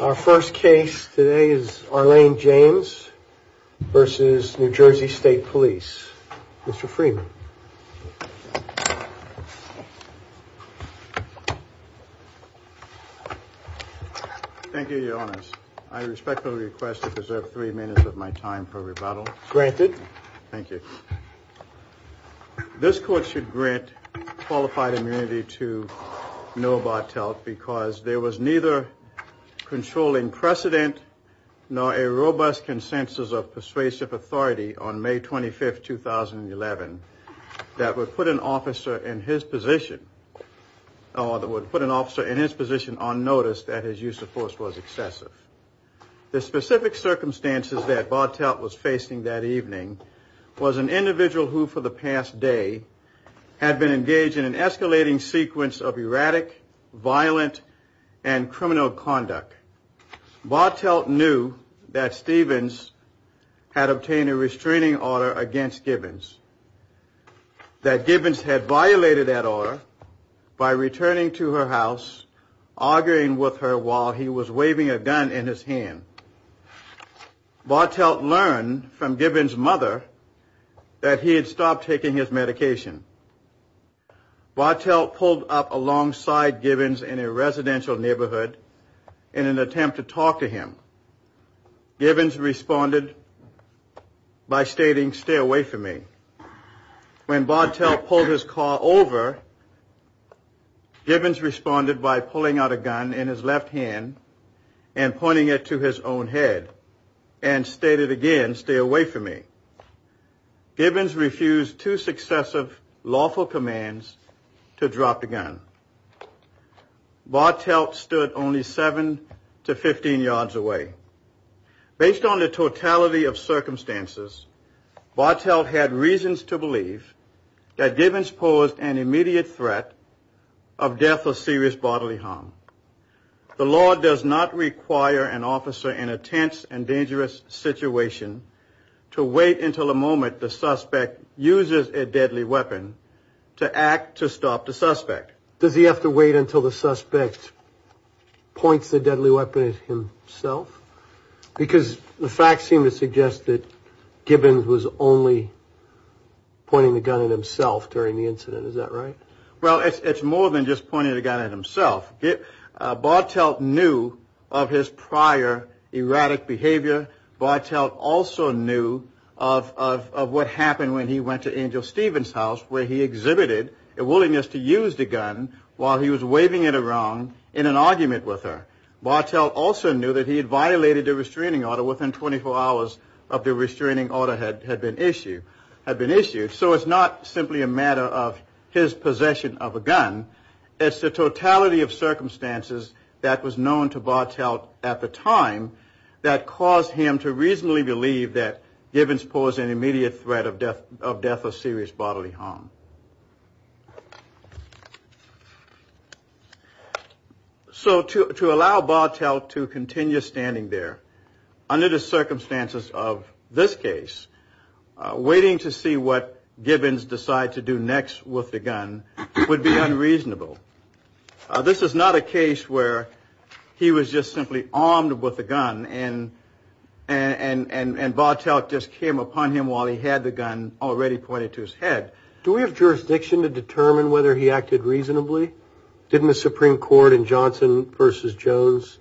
Our first case today is Arlene James versus New Jersey State Police. Mr. Freeman. Thank you, Your Honors. I respectfully request to preserve three minutes of my time for rebuttal. Granted. Thank you. This court should grant qualified immunity to Noah Bartelt because there was neither controlling precedent nor a robust consensus of persuasive authority on May 25, 2011, that would put an officer in his position on notice that his use of force was excessive. The specific circumstances that Bartelt was facing that evening was an individual who, for the past day, had been engaged in an escalating sequence of erratic, violent, and criminal conduct. Bartelt knew that Stevens had obtained a restraining order against Gibbons, that Gibbons had violated that order by returning to her house, arguing with her while he was waving a gun in his hand. Bartelt learned from Gibbons' mother that he had stopped taking his medication. Bartelt pulled up alongside Gibbons in a residential neighborhood in an attempt to talk to him. Gibbons responded by stating, stay away from me. When Bartelt pulled his car over, Gibbons responded by pulling out a gun in his left hand and pointing it to his own head and stated again, stay away from me. Gibbons refused two successive lawful commands to drop the gun. Bartelt stood only 7 to 15 yards away. Based on the totality of circumstances, Bartelt had reasons to believe that Gibbons posed an immediate threat of death or serious bodily harm. The law does not require an officer in a tense and dangerous situation to wait until the moment the suspect uses a deadly weapon to act to stop the suspect. Does he have to wait until the suspect points the deadly weapon at himself? Because the facts seem to suggest that Gibbons was only pointing the gun at himself during the incident, is that right? Well, it's more than just pointing the gun at himself. Bartelt knew of his prior erratic behavior. Bartelt also knew of what happened when he went to Angel Stevens' house where he exhibited a willingness to use the gun while he was waving it around in an argument with her. Bartelt also knew that he had violated the restraining order within 24 hours of the restraining order had been issued. So it's not simply a matter of his possession of a gun, it's the totality of circumstances that was known to Bartelt at the time that caused him to reasonably believe that Gibbons posed an immediate threat of death or serious bodily harm. So to allow Bartelt to continue standing there under the circumstances of this case, waiting to see what Gibbons decides to do next with the gun would be unreasonable. This is not a case where he was just simply armed with a gun and Bartelt just came upon him while he had the gun already pointed to his head. Do we have jurisdiction to determine whether he acted reasonably? Didn't the Supreme Court in Johnson v. Jones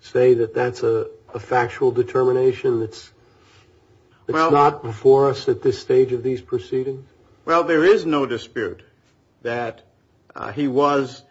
say that that's a factual determination that's not before us at this stage of these proceedings? Well, there is no dispute that he was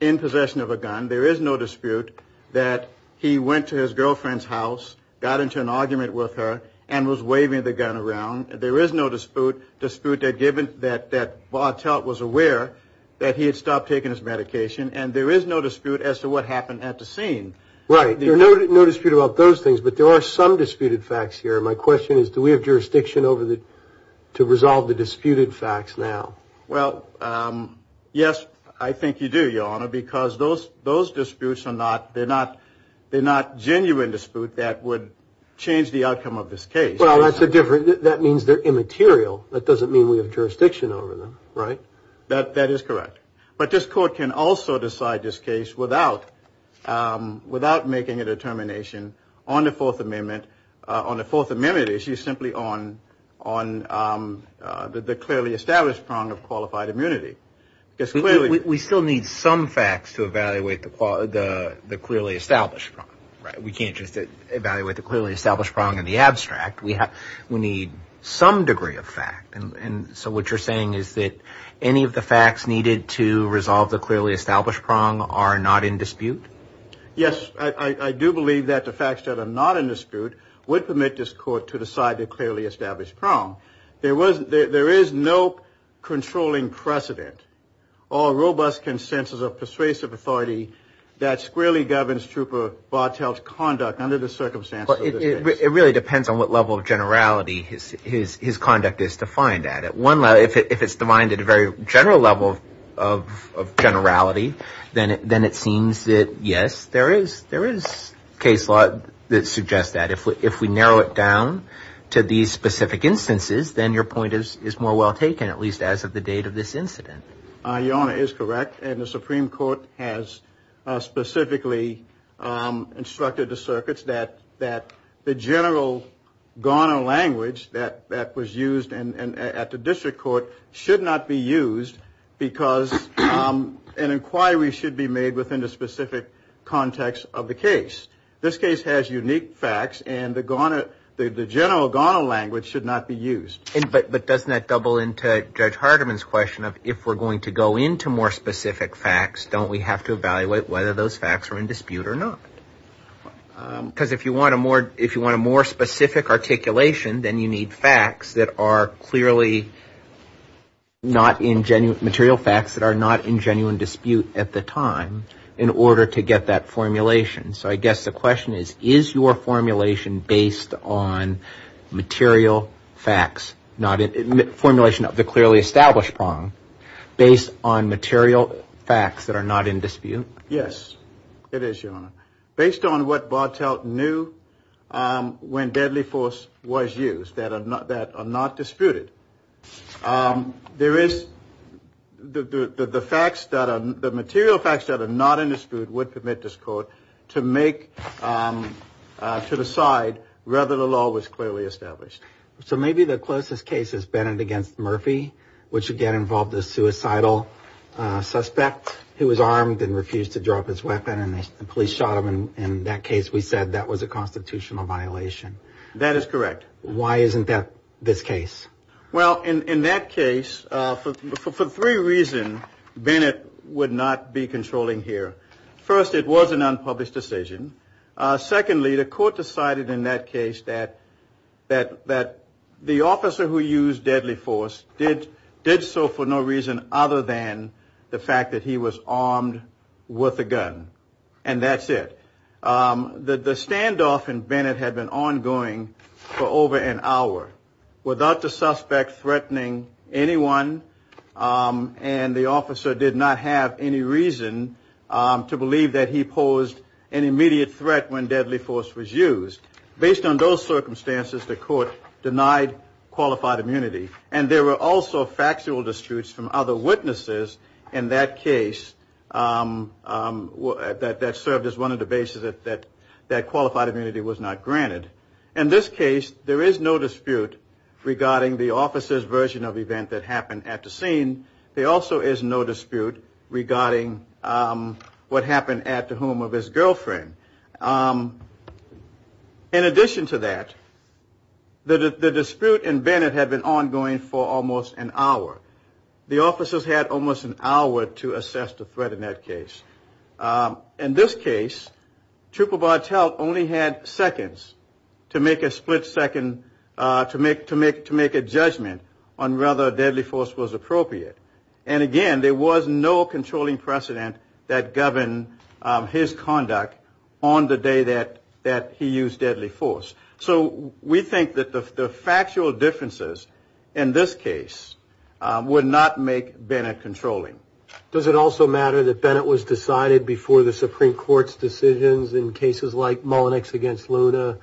in possession of a gun. There is no dispute that he went to his girlfriend's house, got into an argument with her and was waving the gun around. There is no dispute that Bartelt was aware that he had stopped taking his medication and there is no dispute as to what happened at the scene. Right. There is no dispute about those things, but there are some disputed facts here. My question is, do we have jurisdiction to resolve the disputed facts now? Well, yes, I think you do, Your Honor, because those disputes are not genuine disputes that would change the outcome of this case. Well, that means they're immaterial. That doesn't mean we have jurisdiction over them, right? That is correct. But this Court can also decide this case without making a determination on the Fourth Amendment, on the Fourth Amendment issue, simply on the clearly established prong of qualified immunity. We still need some facts to evaluate the clearly established prong. We can't just evaluate the clearly established prong in the abstract. We need some degree of fact, and so what you're saying is that any of the facts needed to resolve the clearly established prong are not in dispute? Yes, I do believe that the facts that are not in dispute would permit this Court to decide the clearly established prong. There is no controlling precedent or robust consensus of persuasive authority that squarely governs Trooper Bartelt's conduct under the circumstances of this case. It really depends on what level of generality his conduct is defined at. If it's defined at a very general level of generality, then it seems that, yes, there is case law that suggests that. If we narrow it down to these specific instances, then your point is more well taken, at least as of the date of this incident. Your Honor, it is correct, and the Supreme Court has specifically instructed the circuits that the general Ghana language that was used at the District Court should not be used because an inquiry should be made within the specific context of the case. This case has unique facts, and the general Ghana language should not be used. But doesn't that double into Judge Hardiman's question of if we're going to go into more specific facts, don't we have to evaluate whether those facts are in dispute or not? Because if you want a more specific articulation, then you need facts that are clearly not in genuine – material facts that are not in genuine dispute at the time in order to get that formulation. So I guess the question is, is your formulation based on material facts – formulation of the clearly established prong based on material facts that are not in dispute? Yes, it is, Your Honor. Based on what Bartelt knew when deadly force was used that are not disputed, there is – the facts that are – the material facts that are not in dispute would permit this court to make – to decide whether the law was clearly established. So maybe the closest case is Bennett against Murphy, which again involved a suicidal suspect who was armed and refused to drop his weapon, and the police shot him, and in that case we said that was a constitutional violation. That is correct. Why isn't that this case? Well, in that case, for three reasons Bennett would not be controlling here. First, it was an unpublished decision. Secondly, the court decided in that case that the officer who used deadly force did so for no reason other than the fact that he was armed with a gun. And that's it. The standoff in Bennett had been ongoing for over an hour without the suspect threatening anyone, and the officer did not have any reason to believe that he posed an immediate threat when deadly force was used. Based on those circumstances, the court denied qualified immunity, and there were also factual disputes from other witnesses in that case that served as one of the bases that qualified immunity was not granted. In this case, there is no dispute regarding the officer's version of the event that happened at the scene. There also is no dispute regarding what happened at the home of his girlfriend. In addition to that, the dispute in Bennett had been ongoing for almost an hour. The officers had almost an hour to assess the threat in that case. In this case, Trooper Bartelt only had seconds to make a judgment on whether deadly force was appropriate. And again, there was no controlling precedent that governed his conduct on the day that he used deadly force. So we think that the factual differences in this case would not make Bennett controlling. Does it also matter that Bennett was decided before the Supreme Court's decisions in cases like Mullenix v. Luna,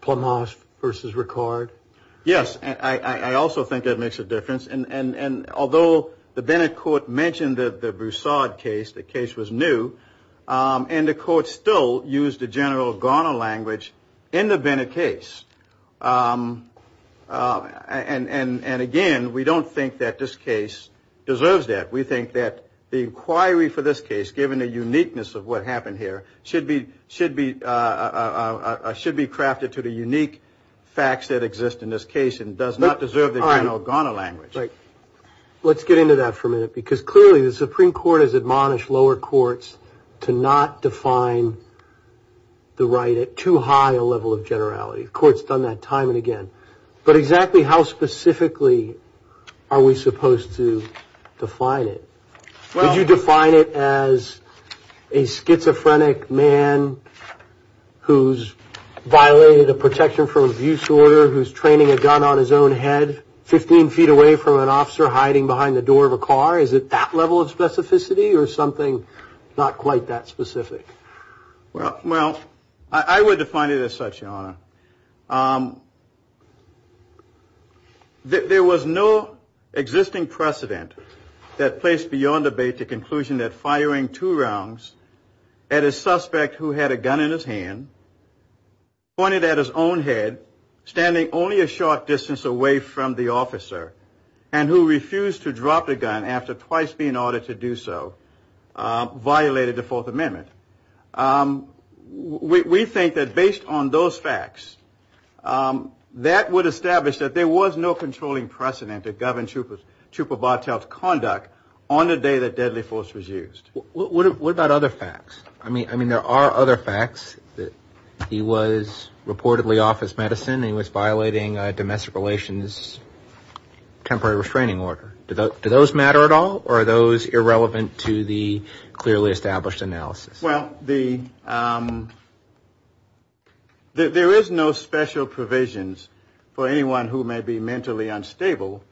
Plamas v. Ricard? Yes, I also think that makes a difference. And although the Bennett court mentioned the Broussard case, the case was new, and the court still used the general Garner language in the Bennett case. And again, we don't think that this case deserves that. We think that the inquiry for this case, given the uniqueness of what happened here, should be crafted to the unique facts that exist in this case and does not deserve the general Garner language. Let's get into that for a minute, because clearly the Supreme Court has admonished lower courts to not define the right at too high a level of generality. The court's done that time and again. But exactly how specifically are we supposed to define it? Did you define it as a schizophrenic man who's violated a protection for abuse order, who's training a gun on his own head 15 feet away from an officer hiding behind the door of a car? Is it that level of specificity or something not quite that specific? Well, I would define it as such, Your Honor. There was no existing precedent that placed beyond debate the conclusion that firing two rounds at a suspect who had a gun in his hand, pointed at his own head, standing only a short distance away from the officer, and who refused to drop the gun after twice being ordered to do so, violated the Fourth Amendment. We think that based on those facts, that would establish that there was no controlling precedent to govern Chupo Bartel's conduct on the day that deadly force was used. What about other facts? I mean, there are other facts that he was reportedly off his medicine and he was violating domestic relations temporary restraining order. Do those matter at all or are those irrelevant to the clearly established analysis? Well, there is no special provisions for anyone who may be mentally unstable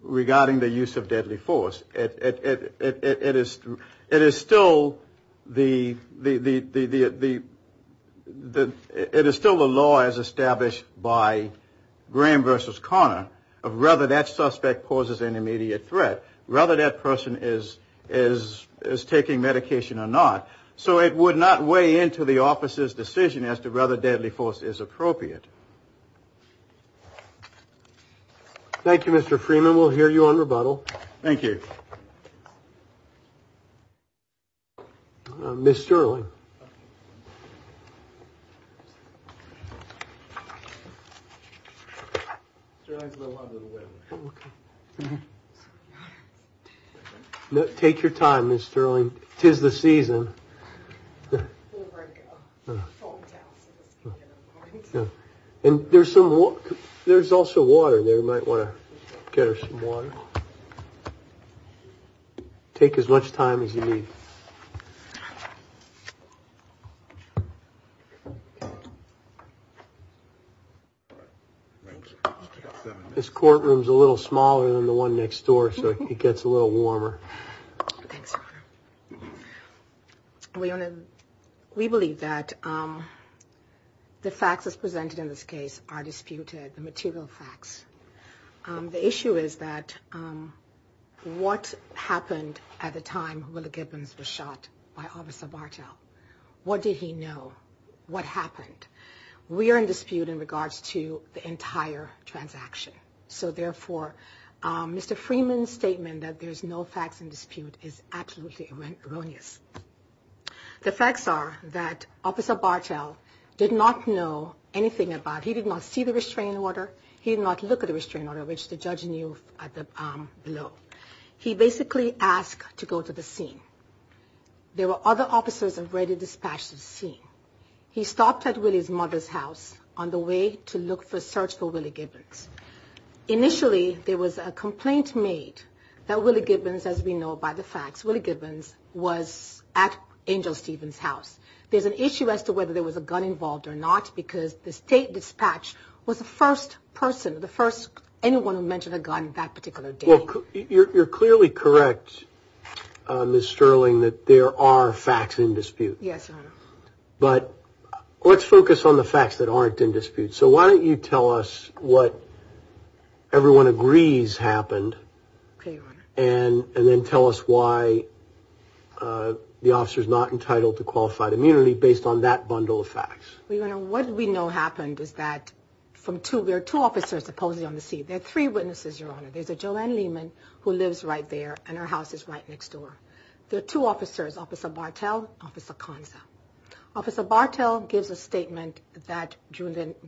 regarding the use of deadly force. It is still the law as established by Graham v. Conner of whether that suspect poses an immediate threat, whether that person is taking medication or not. So it would not weigh into the officer's decision as to whether deadly force is appropriate. Thank you, Mr. Freeman. We'll hear you on rebuttal. Thank you. Mr. Sterling. Take your time, Mr. Sterling. Is the season. And there's some there's also water there. Might want to get some water. Take as much time as you need. This courtroom is a little smaller than the one next door, so it gets a little warmer. We believe that the facts as presented in this case are disputed the material facts. The issue is that what happened at the time? What did he know? What happened? We are in dispute in regards to the entire transaction. So, therefore, Mr. Freeman's statement that there's no facts in dispute is absolutely erroneous. The facts are that Officer Bartel did not know anything about he did not see the restraining order. He did not look at the restraining order, which the judge knew at the below. He basically asked to go to the scene. There were other officers already dispatched to the scene. He stopped at Willie's mother's house on the way to look for search for Willie Gibbons. Initially, there was a complaint made that Willie Gibbons, as we know by the facts, Willie Gibbons was at Angel Stevens' house. There's an issue as to whether there was a gun involved or not because the state dispatch was the first person, the first anyone who mentioned a gun that particular day. You're clearly correct, Ms. Sterling, that there are facts in dispute. Yes. But let's focus on the facts that aren't in dispute. So why don't you tell us what everyone agrees happened and then tell us why the officer is not entitled to qualified immunity based on that bundle of facts. Well, your Honor, what we know happened is that from two, there are two officers supposedly on the scene. There are three witnesses, your Honor. There's a Joanne Lehman who lives right there and her house is right next door. There are two officers, Officer Bartel and Officer Konza. Officer Bartel gives a statement that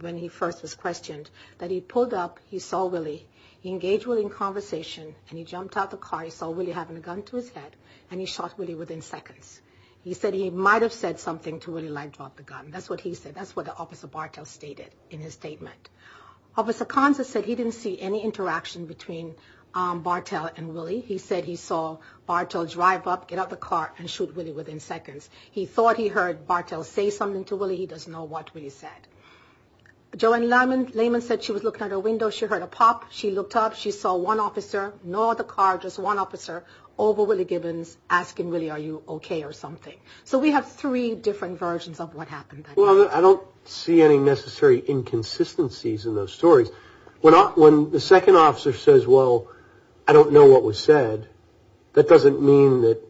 when he first was questioned, that he pulled up, he saw Willie. He engaged Willie in conversation and he jumped out the car. He saw Willie having a gun to his head and he shot Willie within seconds. He said he might have said something to Willie like drop the gun. That's what he said. That's what Officer Bartel stated in his statement. Officer Konza said he didn't see any interaction between Bartel and Willie. He said he saw Bartel drive up, get out the car, and shoot Willie within seconds. He thought he heard Bartel say something to Willie. He doesn't know what Willie said. Joanne Lehman said she was looking out her window. She heard a pop. She looked up. She saw one officer, no other car, just one officer over Willie Gibbons asking Willie are you okay or something. So we have three different versions of what happened. Well, I don't see any necessary inconsistencies in those stories. When the second officer says, well, I don't know what was said, that doesn't mean that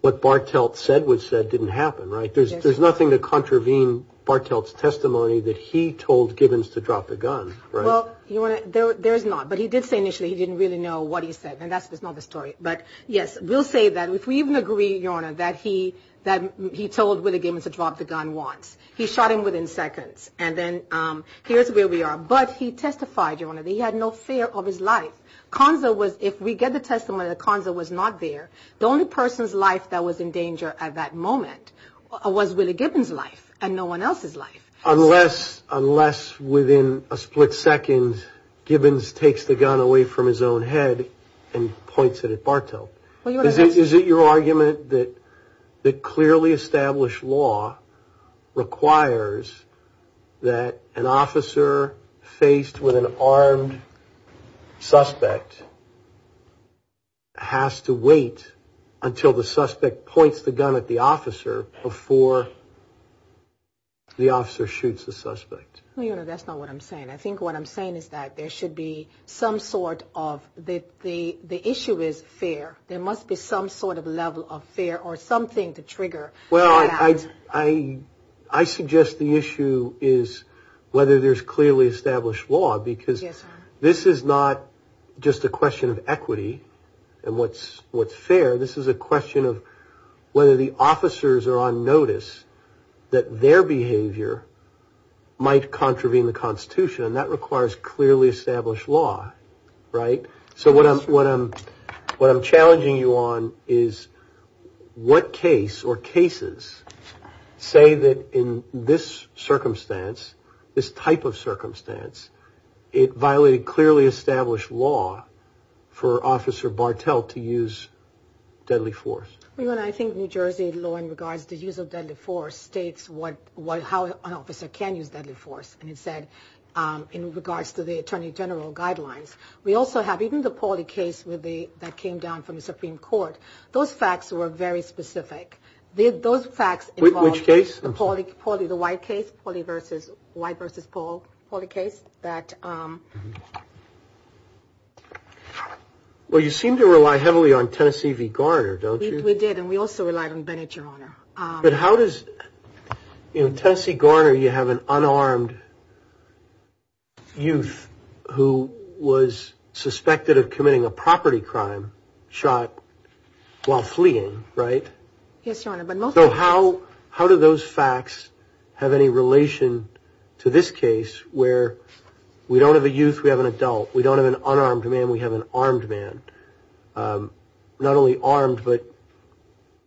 what Bartel said was said didn't happen, right? There's nothing to contravene Bartel's testimony that he told Gibbons to drop the gun, right? Well, Your Honor, there is not. But he did say initially he didn't really know what he said, and that's not the story. But, yes, we'll say that if we even agree, Your Honor, that he told Willie Gibbons to drop the gun once. He shot him within seconds. And then here's where we are. But he testified, Your Honor, that he had no fear of his life. If we get the testimony that Konza was not there, the only person's life that was in danger at that moment was Willie Gibbons' life and no one else's life. Unless, within a split second, Gibbons takes the gun away from his own head and points it at Bartel. Is it your argument that clearly established law requires that an officer faced with an armed suspect has to wait until the suspect points the gun at the officer before the officer shoots the suspect? Well, Your Honor, that's not what I'm saying. I think what I'm saying is that there should be some sort of – the issue is fear. There must be some sort of level of fear or something to trigger that. Well, I suggest the issue is whether there's clearly established law, because this is not just a question of equity and what's fair. This is a question of whether the officers are on notice that their behavior might contravene the Constitution, and that requires clearly established law, right? So what I'm challenging you on is what case or cases say that in this circumstance, this type of circumstance, it violated clearly established law for Officer Bartel to use deadly force? Well, Your Honor, I think New Jersey law in regards to the use of deadly force states how an officer can use deadly force, and it said in regards to the Attorney General guidelines. We also have even the Pauley case that came down from the Supreme Court. Those facts were very specific. Which case? Pauley, the White case, Pauley v. White v. Pauley case. Well, you seem to rely heavily on Tennessee v. Garner, don't you? We did, and we also relied on Bennett, Your Honor. But how does – in Tennessee-Garner, you have an unarmed youth who was suspected of committing a property crime shot while fleeing, right? Yes, Your Honor. So how do those facts have any relation to this case where we don't have a youth, we have an adult? We don't have an unarmed man, we have an armed man? Not only armed, but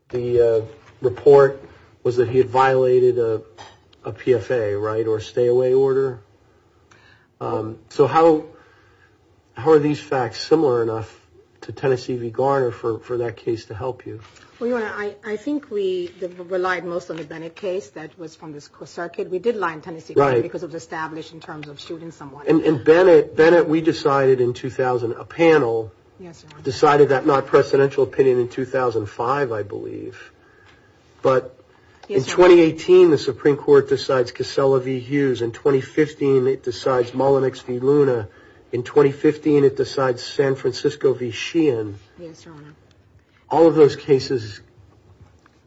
the report was that he had violated a PFA, right, or a stay-away order. So how are these facts similar enough to Tennessee v. Garner for that case to help you? Well, Your Honor, I think we relied most on the Bennett case that was from the circuit. We did rely on Tennessee v. Garner because it was established in terms of shooting someone. And Bennett, we decided in 2000 – a panel decided that non-presidential opinion in 2005, I believe. But in 2018, the Supreme Court decides Casella v. Hughes. In 2015, it decides Mullinex v. Luna. In 2015, it decides San Francisco v. Sheehan. Yes, Your Honor. All of those cases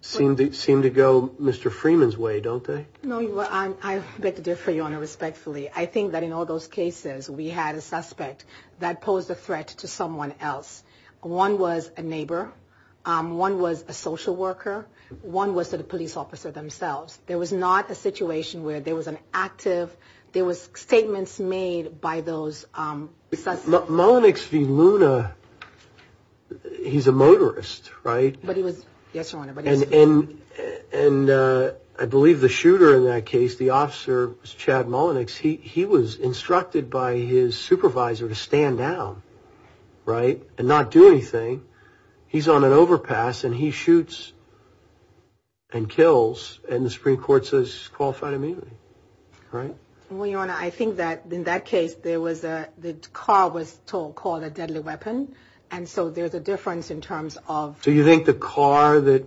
seem to go Mr. Freeman's way, don't they? No, Your Honor. I beg to differ, Your Honor, respectfully. I think that in all those cases, we had a suspect that posed a threat to someone else. One was a neighbor, one was a social worker, one was a police officer themselves. There was not a situation where there was an active – there was statements made by those suspects. Mullinex v. Luna, he's a motorist, right? Yes, Your Honor. And I believe the shooter in that case, the officer was Chad Mullinex. He was instructed by his supervisor to stand down, right, and not do anything. He's on an overpass, and he shoots and kills, and the Supreme Court says he's qualified immediately, right? Well, Your Honor, I think that in that case, the car was called a deadly weapon, and so there's a difference in terms of – So you think the car that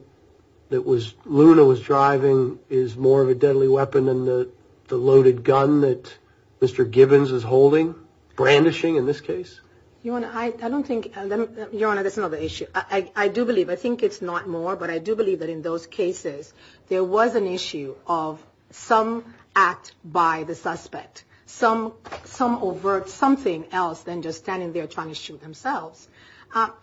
Luna was driving is more of a deadly weapon than the loaded gun that Mr. Gibbons is holding, brandishing in this case? Your Honor, I don't think – Your Honor, that's another issue. I do believe – I think it's not more, but I do believe that in those cases, there was an issue of some act by the suspect, some overt something else than just standing there trying to shoot themselves.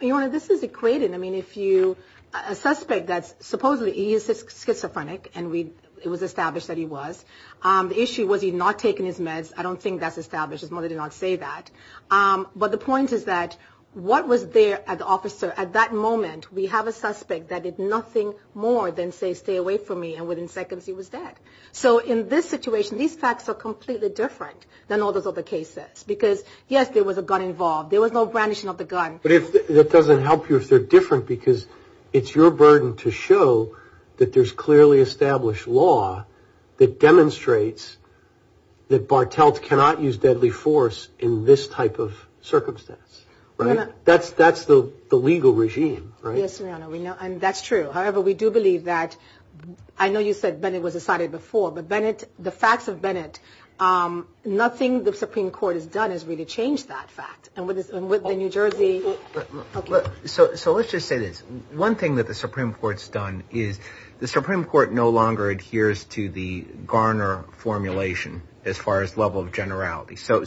Your Honor, this is equated. I mean, if you – a suspect that's supposedly – he is schizophrenic, and it was established that he was. The issue was he had not taken his meds. I don't think that's established. His mother did not say that. But the point is that what was there at the officer – at that moment, we have a suspect that did nothing more than say, stay away from me, and within seconds, he was dead. So in this situation, these facts are completely different than all those other cases because, yes, there was a gun involved. There was no brandishing of the gun. But if – that doesn't help you if they're different because it's your burden to show that there's clearly established law that demonstrates that Bartelt cannot use deadly force in this type of circumstance, right? That's the legal regime, right? Yes, Your Honor. We know – and that's true. However, we do believe that – I know you said Bennett was decided before, but Bennett – the facts of Bennett, nothing the Supreme Court has done has really changed that fact. And with the New Jersey – So let's just say this. One thing that the Supreme Court's done is the Supreme Court no longer adheres to the Garner formulation as far as level of generality. So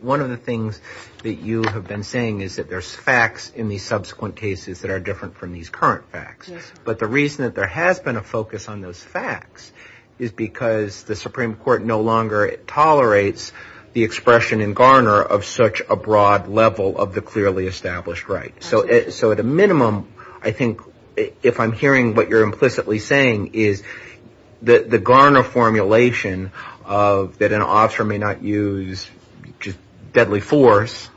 one of the things that you have been saying is that there's facts in these subsequent cases that are different from these current facts. Yes. But the reason that there has been a focus on those facts is because the Supreme Court no longer tolerates the expression in Garner of such a broad level of the clearly established right. So at a minimum, I think, if I'm hearing what you're implicitly saying, is the Garner formulation that an officer may not use deadly force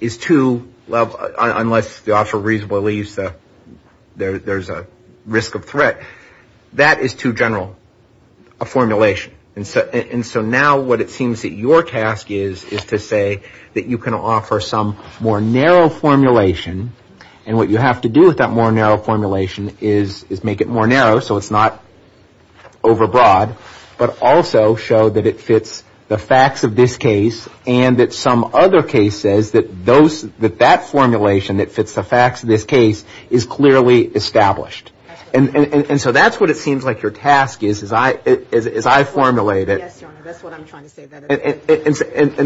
is too – unless the officer reasonably believes there's a risk of threat. That is too general a formulation. And so now what it seems that your task is is to say that you can offer some more narrow formulation, and what you have to do with that more narrow formulation is make it more narrow so it's not overbroad, but also show that it fits the facts of this case and that some other case says that those – that that formulation that fits the facts of this case is clearly established. And so that's what it seems like your task is as I formulate it. Yes, Your Honor, that's what I'm trying to say.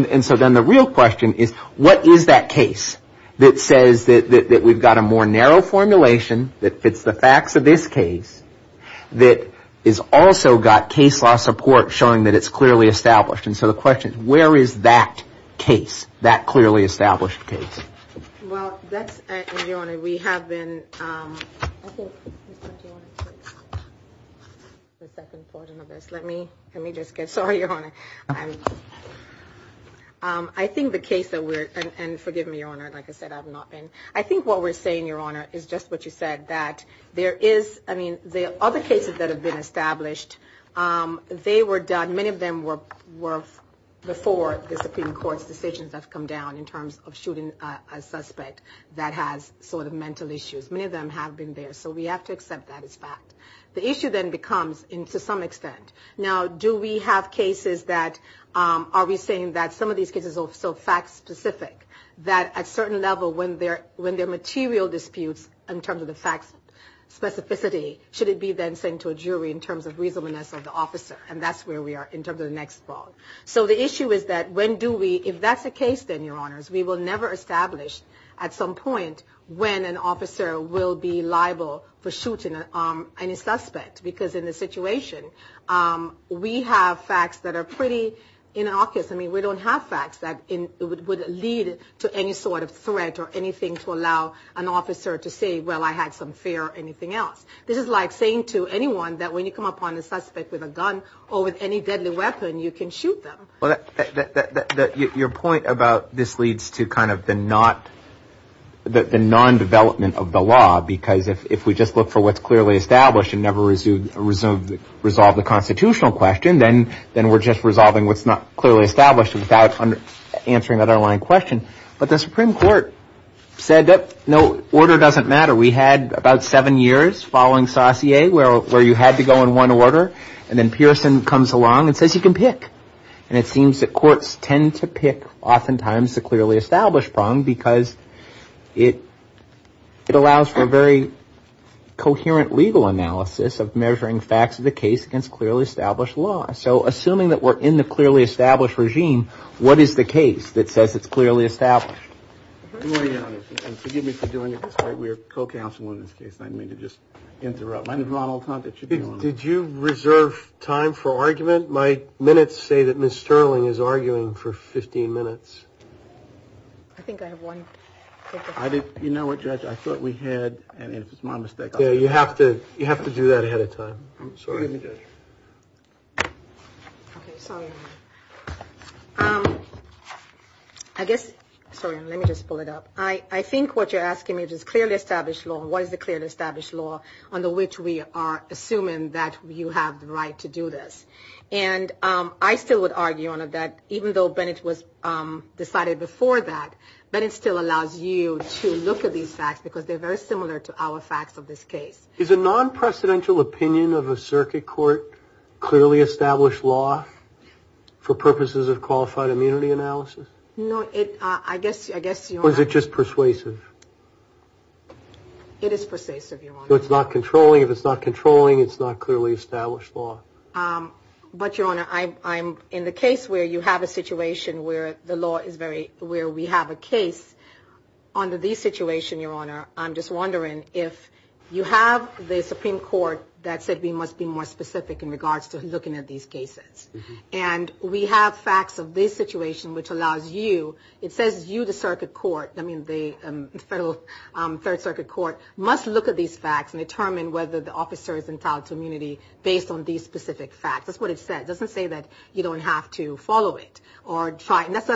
And so then the real question is what is that case that says that we've got a more narrow formulation that fits the facts of this case that has also got case law support showing that it's clearly established. And so the question is where is that case, that clearly established case? Well, that's – Your Honor, we have been – I think, Mr. McKeon, let me just get – sorry, Your Honor. I think the case that we're – and forgive me, Your Honor, like I said, I've not been – I think what we're saying, Your Honor, is just what you said, that there is – I mean, the other cases that have been established, they were done – the Supreme Court's decisions have come down in terms of shooting a suspect that has sort of mental issues. Many of them have been there. So we have to accept that as fact. The issue then becomes, to some extent, now do we have cases that – are we saying that some of these cases are so fact-specific that at a certain level, when there are material disputes in terms of the facts specificity, should it be then sent to a jury in terms of reasonableness of the officer? And that's where we are in terms of the next fraud. So the issue is that when do we – if that's the case, then, Your Honors, we will never establish at some point when an officer will be liable for shooting any suspect. Because in this situation, we have facts that are pretty innocuous. I mean, we don't have facts that would lead to any sort of threat or anything to allow an officer to say, well, I had some fear or anything else. This is like saying to anyone that when you come upon a suspect with a gun or with any deadly weapon, you can shoot them. Well, your point about this leads to kind of the non-development of the law because if we just look for what's clearly established and never resolve the constitutional question, then we're just resolving what's not clearly established without answering the underlying question. But the Supreme Court said that, no, order doesn't matter. We had about seven years following Saussure where you had to go in one order, and then Pearson comes along and says you can pick. And it seems that courts tend to pick oftentimes the clearly established prong because it allows for very coherent legal analysis of measuring facts of the case against clearly established law. So assuming that we're in the clearly established regime, what is the case that says it's clearly established? Forgive me for doing it this way. We are co-counsel in this case. I didn't mean to just interrupt. Did you reserve time for argument? My minutes say that Ms. Sterling is arguing for 15 minutes. I think I have one. You know what, Judge? I thought we had, and if it's my mistake, I'll do it. Yeah, you have to do that ahead of time. I'm sorry, Judge. Okay, sorry. I guess, sorry, let me just pull it up. I think what you're asking me is clearly established law. What is the clearly established law under which we are assuming that you have the right to do this? And I still would argue on it that even though Bennett was decided before that, Bennett still allows you to look at these facts because they're very similar to our facts of this case. Is a non-precedential opinion of a circuit court clearly established law for purposes of qualified immunity analysis? No, I guess you're right. Or is it just persuasive? It is persuasive, Your Honor. So it's not controlling. If it's not controlling, it's not clearly established law. But, Your Honor, I'm in the case where you have a situation where the law is very, where we have a case. Under this situation, Your Honor, I'm just wondering if you have the Supreme Court that said we must be more specific in regards to looking at these cases. And we have facts of this situation which allows you, it says you, the circuit court. I mean, the Federal Third Circuit Court must look at these facts and determine whether the officer is entitled to immunity based on these specific facts. That's what it says. It doesn't say that you don't have to follow it or try. And that's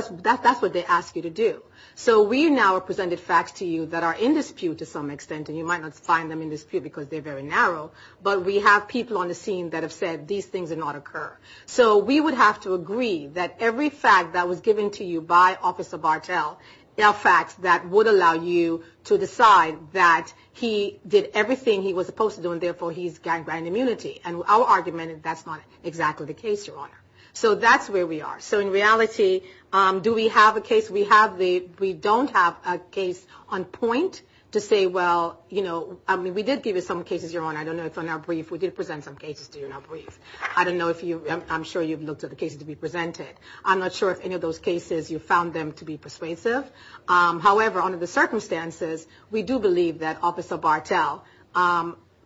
what they ask you to do. So we now have presented facts to you that are in dispute to some extent. And you might not find them in dispute because they're very narrow. But we have people on the scene that have said these things did not occur. So we would have to agree that every fact that was given to you by Officer Bartel are facts that would allow you to decide that he did everything he was supposed to do, and therefore he's granted immunity. And our argument is that's not exactly the case, Your Honor. So that's where we are. So in reality, do we have a case? We have the, we don't have a case on point to say, well, you know, I mean, we did give you some cases, Your Honor. I don't know if on our brief, we did present some cases to you in our brief. I don't know if you, I'm sure you've looked at the cases to be presented. I'm not sure if any of those cases you found them to be persuasive. However, under the circumstances, we do believe that Officer Bartel,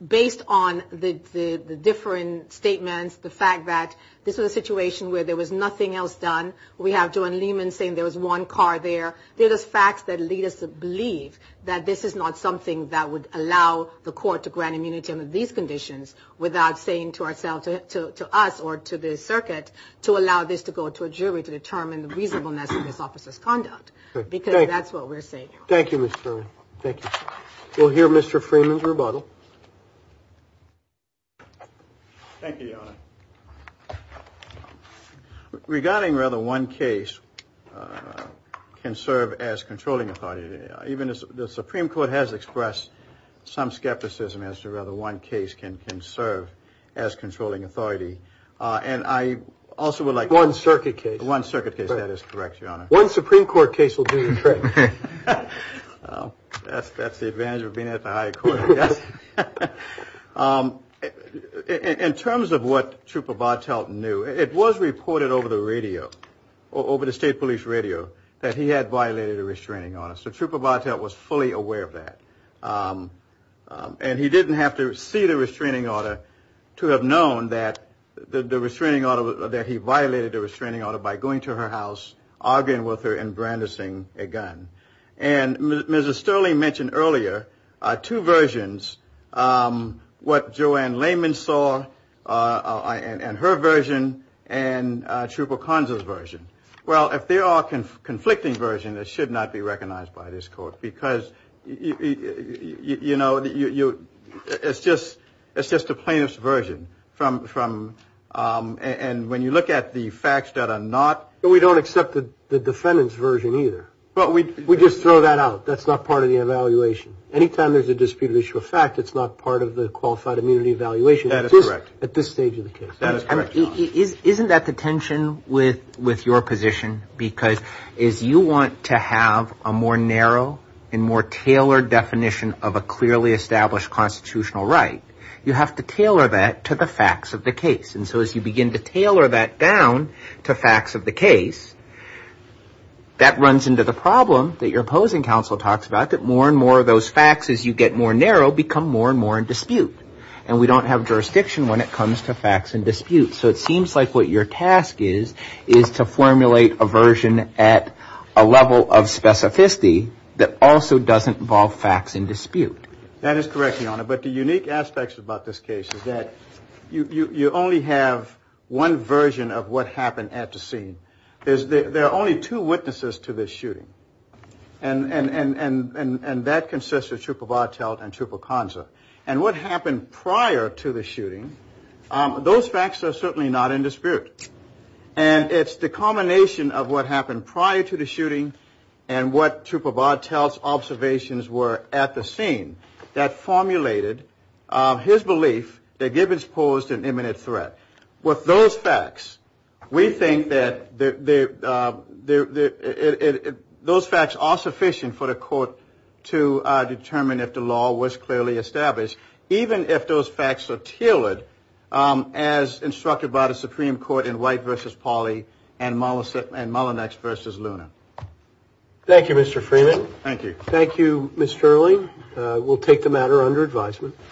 based on the different statements, the fact that this was a situation where there was nothing else done. We have Joanne Lehman saying there was one car there. There's facts that lead us to believe that this is not something that would allow the court to grant immunity under these conditions without saying to ourselves, to us or to the circuit, to allow this to go to a jury to determine the reasonableness of this officer's conduct. Because that's what we're saying. Thank you, Ms. Furman. Thank you. We'll hear Mr. Freeman's rebuttal. Thank you, Your Honor. Regarding whether one case can serve as controlling authority, even the Supreme Court has expressed some skepticism as to whether one case can serve as controlling authority. And I also would like- One circuit case. One circuit case. That is correct, Your Honor. One Supreme Court case will do the trick. That's the advantage of being at the high court, I guess. In terms of what Trooper Bartelt knew, it was reported over the radio, over the state police radio, that he had violated a restraining order. So Trooper Bartelt was fully aware of that. And he didn't have to see the restraining order to have known that the restraining order, that he violated the restraining order by going to her house, arguing with her and brandishing a gun. And Ms. Sterling mentioned earlier two versions, what Joanne Lehman saw and her version and Trooper Conzo's version. Well, if they are a conflicting version, it should not be recognized by this court because, you know, it's just a plaintiff's version. And when you look at the facts that are not- We don't accept the defendant's version either. Well, we just throw that out. That's not part of the evaluation. Anytime there's a disputed issue of fact, it's not part of the qualified immunity evaluation- That is correct. At this stage of the case. That is correct, Your Honor. Isn't that the tension with your position? Because as you want to have a more narrow and more tailored definition of a clearly established constitutional right, you have to tailor that to the facts of the case. And so as you begin to tailor that down to facts of the case, that runs into the problem that your opposing counsel talks about, that more and more of those facts, as you get more narrow, become more and more in dispute. And we don't have jurisdiction when it comes to facts in dispute. So it seems like what your task is, is to formulate a version at a level of specificity that also doesn't involve facts in dispute. That is correct, Your Honor. But the unique aspects about this case is that you only have one version of what happened at the scene. There are only two witnesses to this shooting, and that consists of Trooper Bartelt and Trooper Conza. And what happened prior to the shooting, those facts are certainly not in dispute. And it's the culmination of what happened prior to the shooting and what Trooper Bartelt's observations were at the scene that formulated his belief that Gibbons posed an imminent threat. With those facts, we think that those facts are sufficient for the court to determine if the law was clearly established, even if those facts are tailored as instructed by the Supreme Court in White v. Pauley and Mullinex v. Luna. Thank you, Mr. Freeman. Thank you. Thank you, Ms. Sterling. We'll take the matter under advisement.